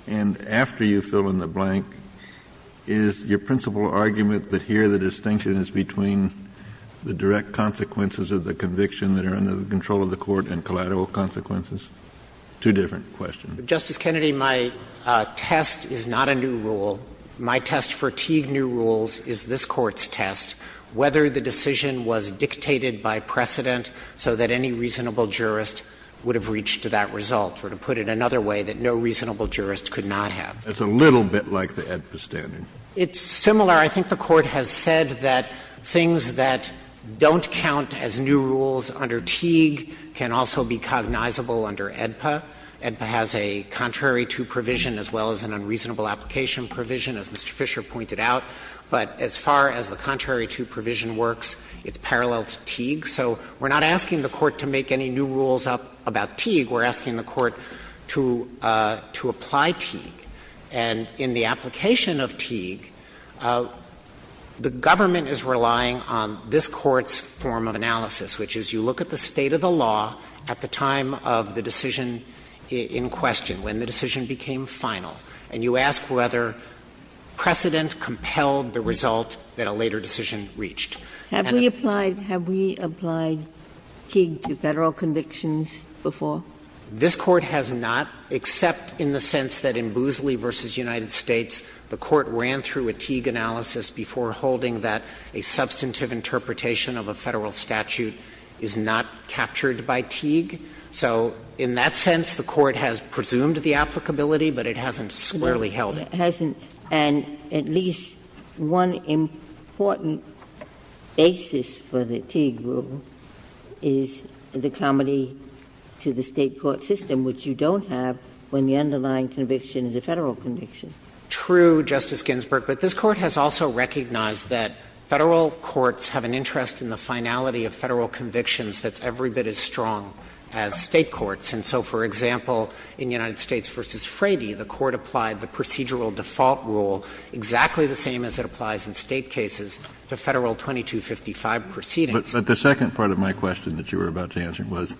and after you fill in the blank, you fill in the direct consequences of the conviction that are under the control of the Court and collateral consequences? Two different questions. Justice Kennedy, my test is not a new rule. My test for Teague new rules is this Court's test, whether the decision was dictated by precedent so that any reasonable jurist would have reached that result, or to put it another way, that no reasonable jurist could not have. It's a little bit like the AEDPA standard. It's similar. I think the Court has said that things that don't count as new rules under Teague can also be cognizable under AEDPA. AEDPA has a contrary to provision as well as an unreasonable application provision, as Mr. Fisher pointed out. But as far as the contrary to provision works, it's parallel to Teague. So we're not asking the Court to make any new rules up about Teague. We're asking the Court to apply Teague. And in the application of Teague, the government is relying on this Court's form of analysis, which is you look at the state of the law at the time of the decision in question, when the decision became final, and you ask whether precedent compelled the result that a later decision reached. Have we applied Teague to Federal convictions before? This Court has not, except in the sense that in Boosley v. United States, the Court ran through a Teague analysis before holding that a substantive interpretation of a Federal statute is not captured by Teague. So in that sense, the Court has presumed the applicability, but it hasn't clearly held it. Ginsburg. And at least one important basis for the Teague rule is the comity to the State court system, which you don't have when the underlying conviction is a Federal conviction. True, Justice Ginsburg, but this Court has also recognized that Federal courts have an interest in the finality of Federal convictions that's every bit as strong as State courts. And so, for example, in United States v. Frady, the Court applied the procedural default rule exactly the same as it applies in State cases to Federal 2255 proceedings. But the second part of my question that you were about to answer was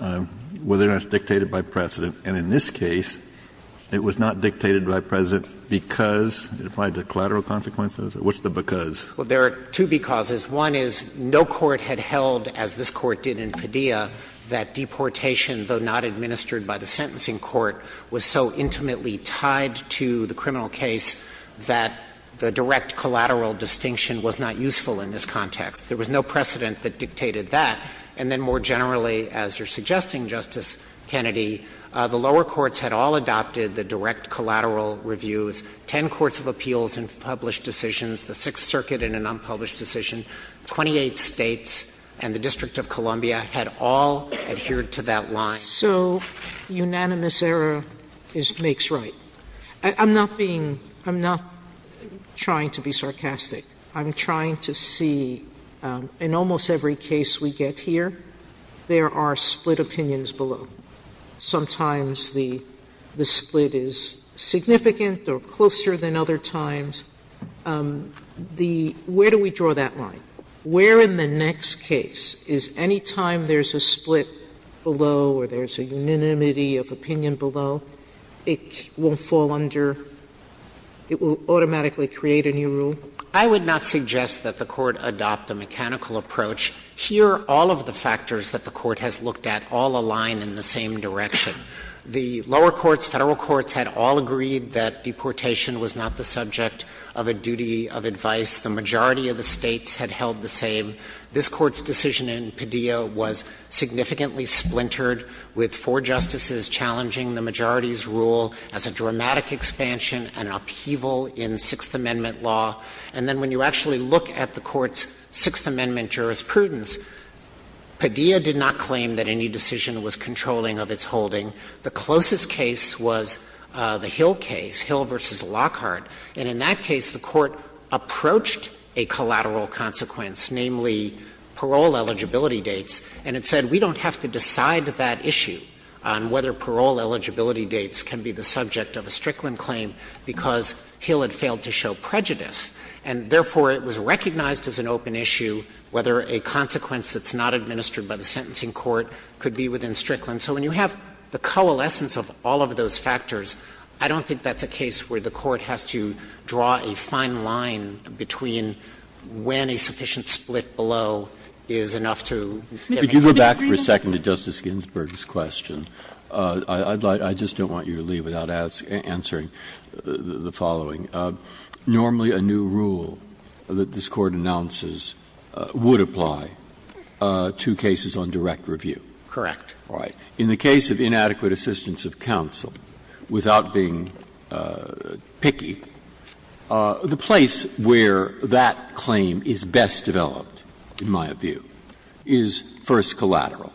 whether or not it's dictated by precedent. And in this case, it was not dictated by precedent because it applied to collateral consequences? What's the because? Well, there are two becauses. One is no court had held, as this Court did in Padilla, that deportation, though not administered by the sentencing court, was so intimately tied to the criminal case that the direct collateral distinction was not useful in this context. There was no precedent that dictated that. And then more generally, as you're suggesting, Justice Kennedy, the lower courts had all adopted the direct collateral reviews, ten courts of appeals and published decisions, the Sixth Circuit in an unpublished decision, 28 States, and the District of Columbia had all adhered to that line. Sotomayor So unanimous error makes right. I'm not being – I'm not trying to be sarcastic. I'm trying to see in almost every case we get here, there are split opinions below. Sometimes the split is significant or closer than other times. The – where do we draw that line? Where in the next case is any time there's a split below or there's a unanimity of opinion below, it won't fall under – it will automatically create a new rule? Dreeben I would not suggest that the Court adopt a mechanical approach. Here, all of the factors that the Court has looked at all align in the same direction. The lower courts, Federal courts, had all agreed that deportation was not the subject. Of a duty of advice, the majority of the States had held the same. This Court's decision in Padilla was significantly splintered, with four justices challenging the majority's rule as a dramatic expansion, an upheaval in Sixth Amendment law. And then when you actually look at the Court's Sixth Amendment jurisprudence, Padilla did not claim that any decision was controlling of its holding. The closest case was the Hill case, Hill v. Lockhart. And in that case, the Court approached a collateral consequence, namely, parole eligibility dates, and it said, we don't have to decide that issue on whether parole eligibility dates can be the subject of a Strickland claim because Hill had failed to show prejudice, and therefore, it was recognized as an open issue whether a consequence that's not administered by the sentencing court could be within Strickland. And so when you have the coalescence of all of those factors, I don't think that's a case where the Court has to draw a fine line between when a sufficient split below is enough to get an agreement. Breyer, I just don't want you to leave without answering the following. Normally, a new rule that this Court announces would apply to cases on direct review. Correct. All right. In the case of inadequate assistance of counsel, without being picky, the place where that claim is best developed, in my view, is first collateral,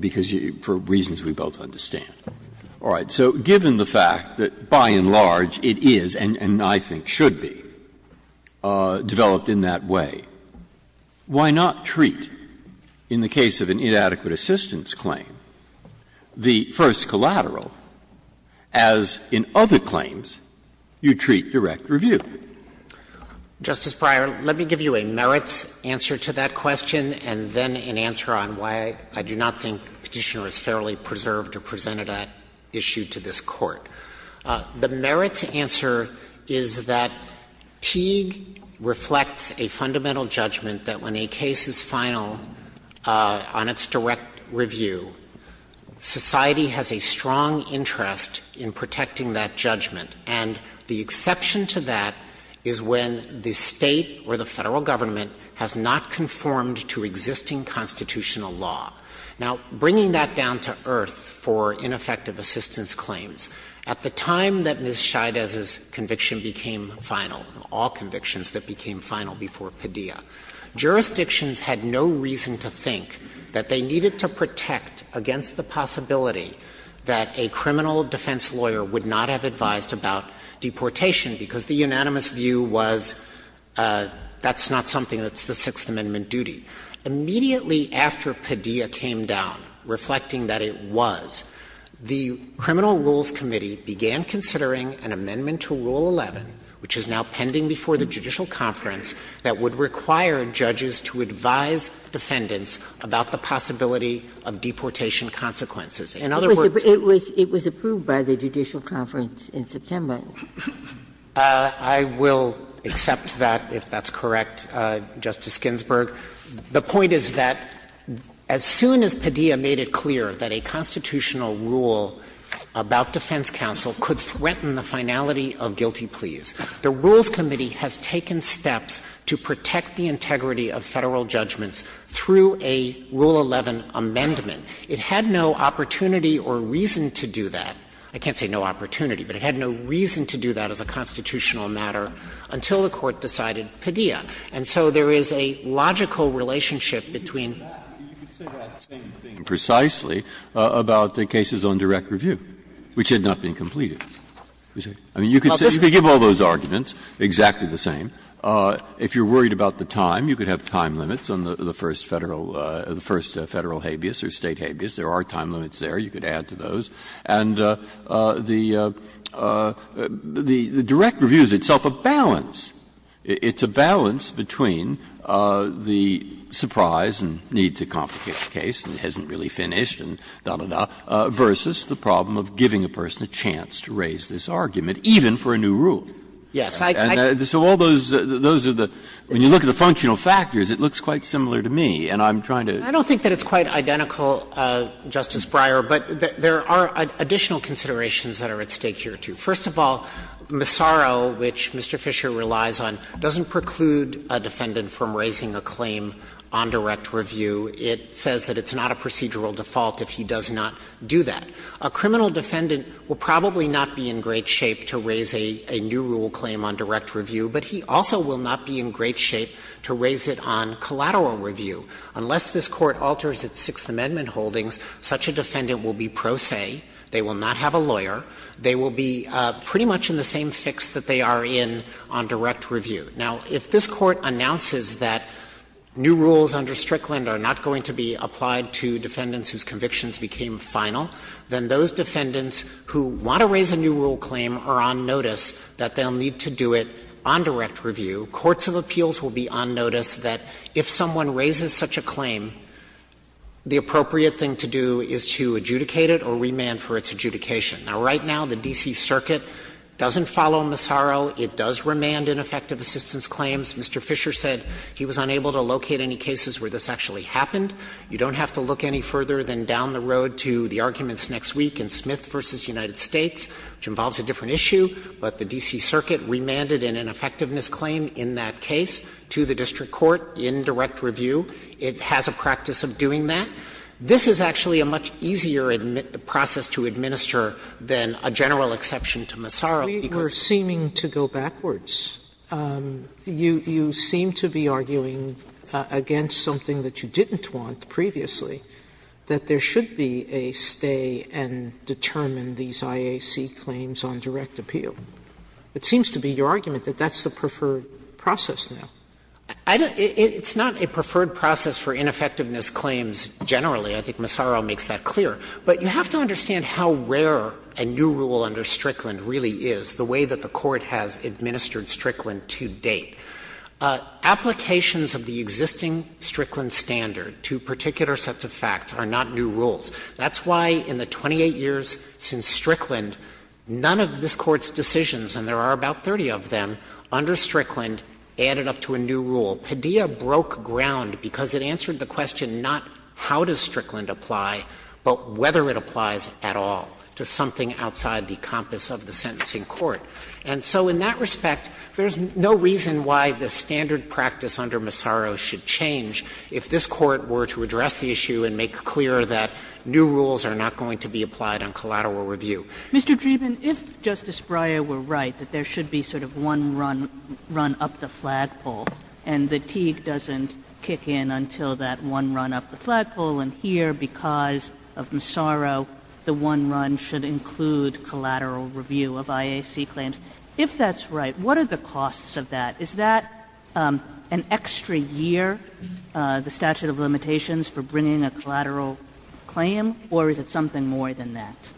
because for reasons we both understand. All right. So given the fact that, by and large, it is, and I think should be, developed in that way, why not treat, in the case of an inadequate assistance claim, the first collateral, as in other claims you treat direct review? Justice Breyer, let me give you a merits answer to that question and then an answer on why I do not think the Petitioner has fairly preserved or presented that issue to this Court. The merits answer is that Teague reflects a fundamental judgment that when a case is final on its direct review, society has a strong interest in protecting that judgment. And the exception to that is when the State or the Federal Government has not conformed to existing constitutional law. Now, bringing that down to earth for ineffective assistance claims, at the time that Ms. Scheides' conviction became final, all convictions that became final before Padilla, jurisdictions had no reason to think that they needed to protect against the possibility that a criminal defense lawyer would not have advised about deportation, because the unanimous view was that's not something that's the Sixth Amendment duty. Immediately after Padilla came down, reflecting that it was, the Criminal Rules Committee began considering an amendment to Rule 11, which is now pending before the judicial conference, that would require judges to advise defendants about the possibility of deportation consequences. In other words, it was approved by the judicial conference in September. I will accept that, if that's correct, Justice Ginsburg. The point is that as soon as Padilla made it clear that a constitutional rule about defense counsel could threaten the finality of guilty pleas, the Rules Committee has taken steps to protect the integrity of Federal judgments through a Rule 11 amendment. It had no opportunity or reason to do that. I can't say no opportunity, but it had no reason to do that as a constitutional matter until the Court decided Padilla. And so there is a logical relationship between. Breyer, you could say that same thing precisely about the cases on direct review, which had not been completed. I mean, you could say, you could give all those arguments, exactly the same. If you're worried about the time, you could have time limits on the first Federal or the first Federal habeas or State habeas. There are time limits there. You could add to those. And the direct review is itself a balance. It's a balance between the surprise and need to complicate the case and it hasn't really finished and da, da, da, versus the problem of giving a person a chance to raise this argument, even for a new rule. So all those are the – when you look at the functional factors, it looks quite similar to me, and I'm trying to. Dreeben, I don't think that it's quite identical, Justice Breyer, but there are additional considerations that are at stake here, too. First of all, Massaro, which Mr. Fisher relies on, doesn't preclude a defendant from raising a claim on direct review. It says that it's not a procedural default if he does not do that. A criminal defendant will probably not be in great shape to raise a new rule claim on direct review, but he also will not be in great shape to raise it on collateral review. Unless this Court alters its Sixth Amendment holdings, such a defendant will be pro se. They will not have a lawyer. They will be pretty much in the same fix that they are in on direct review. Now, if this Court announces that new rules under Strickland are not going to be applied to defendants whose convictions became final, then those defendants who want to raise a new rule claim are on notice that they'll need to do it on direct review. Courts of appeals will be on notice that if someone raises such a claim, the appropriate thing to do is to adjudicate it or remand for its adjudication. Now, right now, the D.C. Circuit doesn't follow Massaro. It does remand ineffective assistance claims. Mr. Fisher said he was unable to locate any cases where this actually happened. You don't have to look any further than down the road to the arguments next week in Smith v. United States, which involves a different issue, but the D.C. Circuit remanded an ineffectiveness claim in that case to the district court in direct review. It has a practice of doing that. This is actually a much easier process to administer than a general exception to Massaro, because it's a much easier process to administer. Sotomayor, you seem to be arguing against something that you didn't want previously, that there should be a stay and determine these IAC claims on direct appeal. It seems to be your argument that that's the preferred process now. Dreeben, it's not a preferred process for ineffectiveness claims generally. I think Massaro makes that clear. But you have to understand how rare a new rule under Strickland really is, the way that the Court has administered Strickland to date. Applications of the existing Strickland standard to particular sets of facts are not new rules. That's why in the 28 years since Strickland, none of this Court's decisions, and there are about 30 of them, under Strickland added up to a new rule. Padilla broke ground because it answered the question not how does Strickland apply, but whether it applies at all to something outside the compass of the sentencing court. And so in that respect, there's no reason why the standard practice under Massaro should change if this Court were to address the issue and make clear that new rules are not going to be applied on collateral review. Mr. Dreeben, if Justice Breyer were right, that there should be sort of one run up the flagpole, and the Teague doesn't kick in until that one run up the flagpole, and here, because of Massaro, the one run should include collateral review of IAC claims, if that's right, what are the costs of that? Is that an extra year, the statute of limitations, for bringing a collateral claim, or is it something more than that?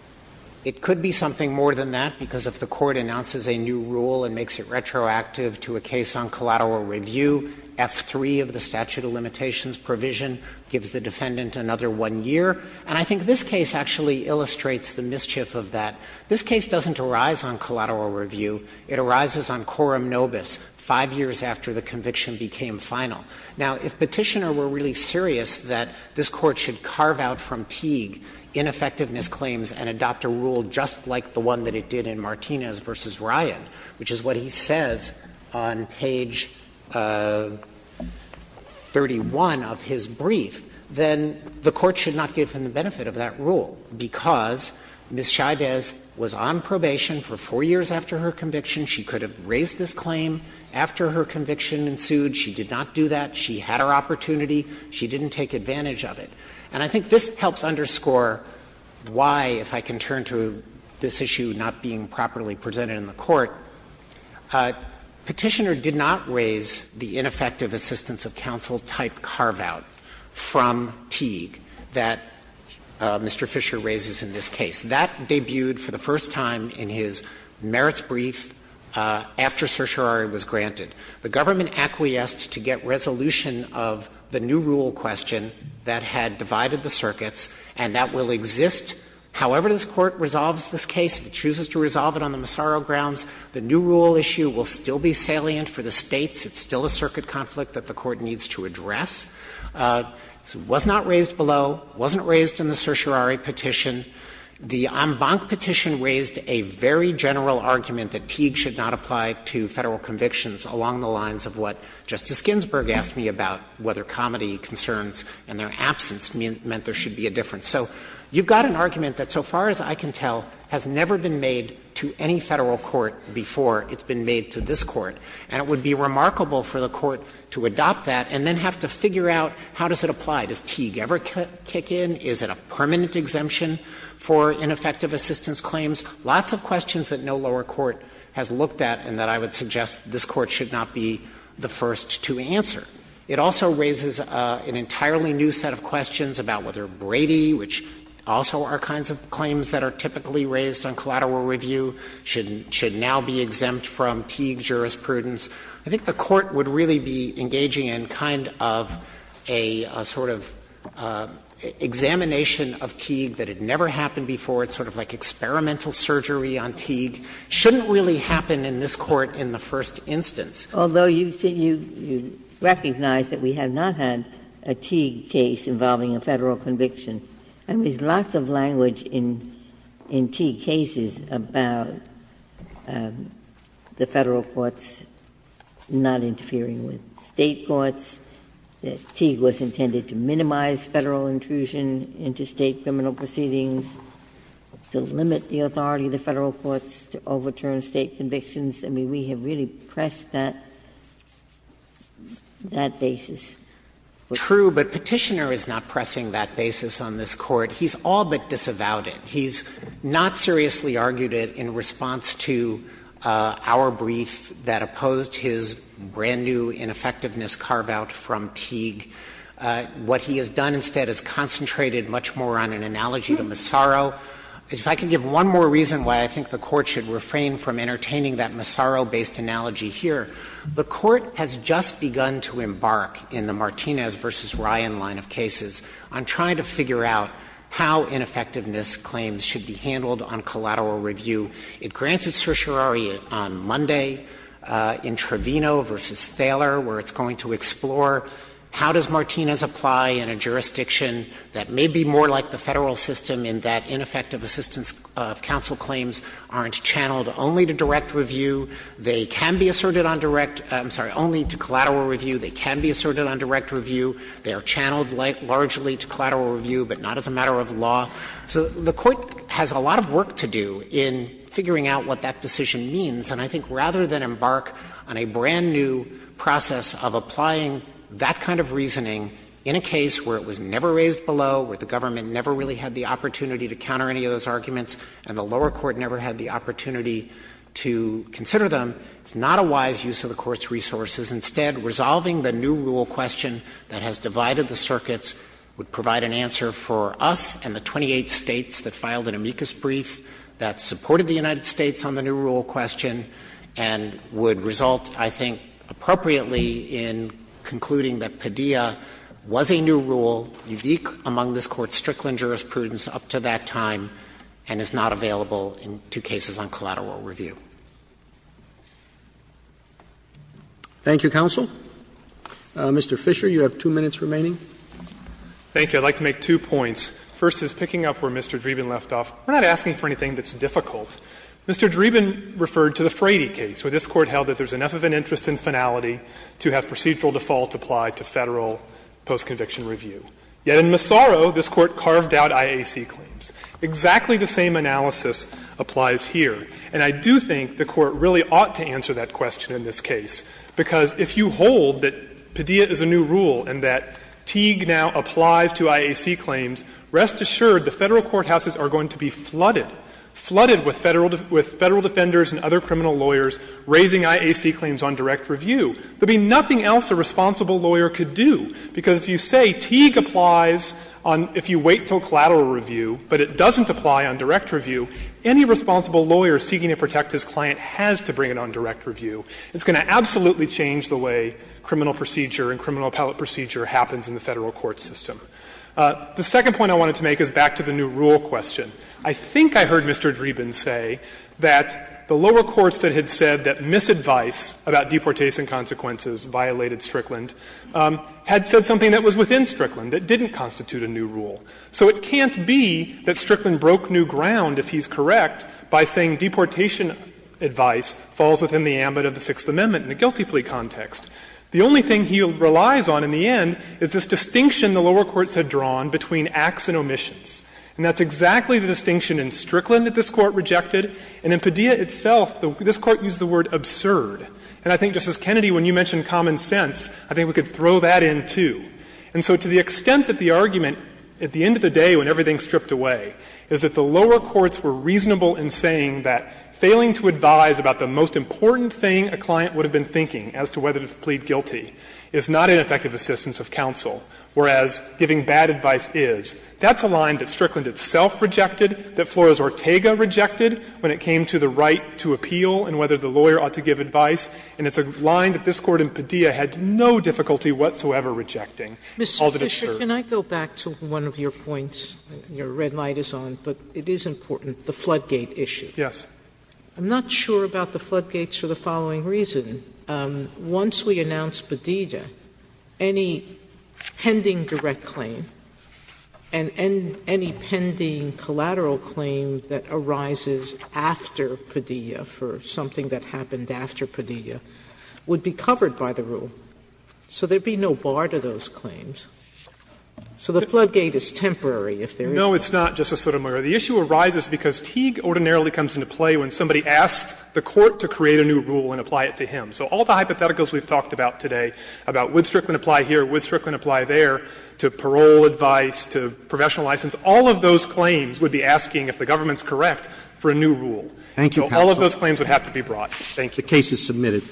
It could be something more than that, because if the Court announces a new rule and makes it retroactive to a case on collateral review, F3 of the statute of limitations provision gives the defendant another one year. And I think this case actually illustrates the mischief of that. This case doesn't arise on collateral review. It arises on coram nobis, 5 years after the conviction became final. Now, if Petitioner were really serious that this Court should carve out from Teague ineffectiveness claims and adopt a rule just like the one that it did in Martinez v. Ryan, which is what he says on page 31 of his brief, then the Court should not give him the benefit of that rule, because Ms. Chavez was on probation for 4 years after her conviction. She could have raised this claim after her conviction ensued. She did not do that. She had her opportunity. She didn't take advantage of it. And I think this helps underscore why, if I can turn to this issue not being properly presented in the Court, Petitioner did not raise the ineffective assistance of counsel-type carve-out from Teague that Mr. Fisher raises in this case. That debuted for the first time in his merits brief after certiorari was granted. The government acquiesced to get resolution of the new rule question that had divided the circuits, and that will exist however this Court resolves this case. If it chooses to resolve it on the Massaro grounds, the new rule issue will still be salient for the States. It's still a circuit conflict that the Court needs to address. It was not raised below. It wasn't raised in the certiorari petition. The en banc petition raised a very general argument that Teague should not apply to Federal convictions along the lines of what Justice Ginsburg asked me about, whether comedy concerns and their absence meant there should be a difference. So you've got an argument that, so far as I can tell, has never been made to any Federal court before it's been made to this Court. And it would be remarkable for the Court to adopt that and then have to figure out how does it apply. Does Teague ever kick in? Is it a permanent exemption for ineffective assistance claims? Lots of questions that no lower court has looked at and that I would suggest this Court should not be the first to answer. It also raises an entirely new set of questions about whether Brady, which also are kinds of claims that are typically raised on collateral review, should now be exempt from Teague jurisprudence. I think the Court would really be engaging in kind of a sort of examination of Teague that had never happened before. It's sort of like experimental surgery on Teague. It shouldn't really happen in this Court in the first instance. Ginsburg. Although you recognize that we have not had a Teague case involving a Federal conviction, there is lots of language in Teague cases about the Federal court's not interfering with State courts. Teague was intended to minimize Federal intrusion into State criminal proceedings, to limit the authority of the Federal courts to overturn State convictions. I mean, we have really pressed that basis. True, but Petitioner is not pressing that basis on this Court. He's all but disavowed it. He's not seriously argued it in response to our brief that opposed his brand-new ineffectiveness carve-out from Teague. What he has done instead is concentrated much more on an analogy to Massaro. If I could give one more reason why I think the Court should refrain from entertaining that Massaro-based analogy here, the Court has just begun to embark in the Martinez v. Ryan line of cases on trying to figure out how ineffectiveness claims should be handled on collateral review. It granted certiorari on Monday in Trevino v. Thaler, where it's going to explore how does Martinez apply in a jurisdiction that may be more like the Federal system in that ineffective assistance of counsel claims aren't channeled only to direct review. They can be asserted on direct — I'm sorry, only to collateral review. They can be asserted on direct review. They are channeled largely to collateral review, but not as a matter of law. So the Court has a lot of work to do in figuring out what that decision means. And I think rather than embark on a brand-new process of applying that kind of reasoning in a case where it was never raised below, where the government never really had the opportunity to counter any of those arguments and the lower court never had the opportunity to consider them, it's not a wise use of the Court's resources. Instead, resolving the new rule question that has divided the circuits would provide an answer for us and the 28 States that filed an amicus brief that supported the United States on the new rule question and would result, I think, appropriately in concluding that Padilla was a new rule, unique among this Court's Strickland jurisprudence up to that time, and is not available in two cases on collateral review. Thank you, counsel. Mr. Fisher, you have two minutes remaining. Fisher, I'd like to make two points. First is, picking up where Mr. Dreeben left off, we're not asking for anything that's difficult. Mr. Dreeben referred to the Frady case, where this Court held that there's enough of an interest in finality to have procedural default apply to Federal post-conviction review. Yet in Massaro, this Court carved out IAC claims. Exactly the same analysis applies here. And I do think the Court really ought to answer that question in this case, because if you hold that Padilla is a new rule and that Teague now applies to IAC claims, rest assured the Federal courthouses are going to be flooded, flooded with Federal defenders and other criminal lawyers raising IAC claims on direct review. There would be nothing else a responsible lawyer could do, because if you say Teague applies if you wait until collateral review, but it doesn't apply on direct review, any responsible lawyer seeking to protect his client has to bring it on direct review. It's going to absolutely change the way criminal procedure and criminal appellate procedure happens in the Federal court system. The second point I wanted to make is back to the new rule question. I think I heard Mr. Dreeben say that the lower courts that had said that misadvice about deportation consequences violated Strickland had said something that was within Strickland that didn't constitute a new rule. So it can't be that Strickland broke new ground, if he's correct, by saying deportation advice falls within the ambit of the Sixth Amendment in a guilty plea context. The only thing he relies on in the end is this distinction the lower courts had drawn between acts and omissions. And that's exactly the distinction in Strickland that this Court rejected, and in Padilla itself, this Court used the word absurd. And I think, Justice Kennedy, when you mention common sense, I think we could throw that in, too. And so to the extent that the argument, at the end of the day when everything stripped away, is that the lower courts were reasonable in saying that failing to advise about the most important thing a client would have been thinking as to whether to plead guilty is not an effective assistance of counsel, whereas giving bad advice is. That's a line that Strickland itself rejected, that Flores-Ortega rejected when it came to the right to appeal and whether the lawyer ought to give advice, and it's a line that this Court in Padilla had no difficulty whatsoever rejecting, called it absurd. Sotomayor, can I go back to one of your points? Your red light is on, but it is important, the floodgate issue. Fisher, I'm not sure about the floodgates for the following reason. Once we announce Padilla, any pending direct claim and any pending collateral claim that arises after Padilla for something that happened after Padilla would be covered by the rule, so there would be no bar to those claims. So the floodgate is temporary if there is one. Fisher, No, it's not, Justice Sotomayor. The issue arises because Teague ordinarily comes into play when somebody asks the court to create a new rule and apply it to him. So all the hypotheticals we've talked about today, about would Strickland apply here, would Strickland apply there, to parole advice, to professional license, all of those claims would be asking, if the government is correct, for a new rule. Roberts, Thank you, counsel. Fisher, So all of those claims would have to be brought. Thank you. Roberts, The case is submitted.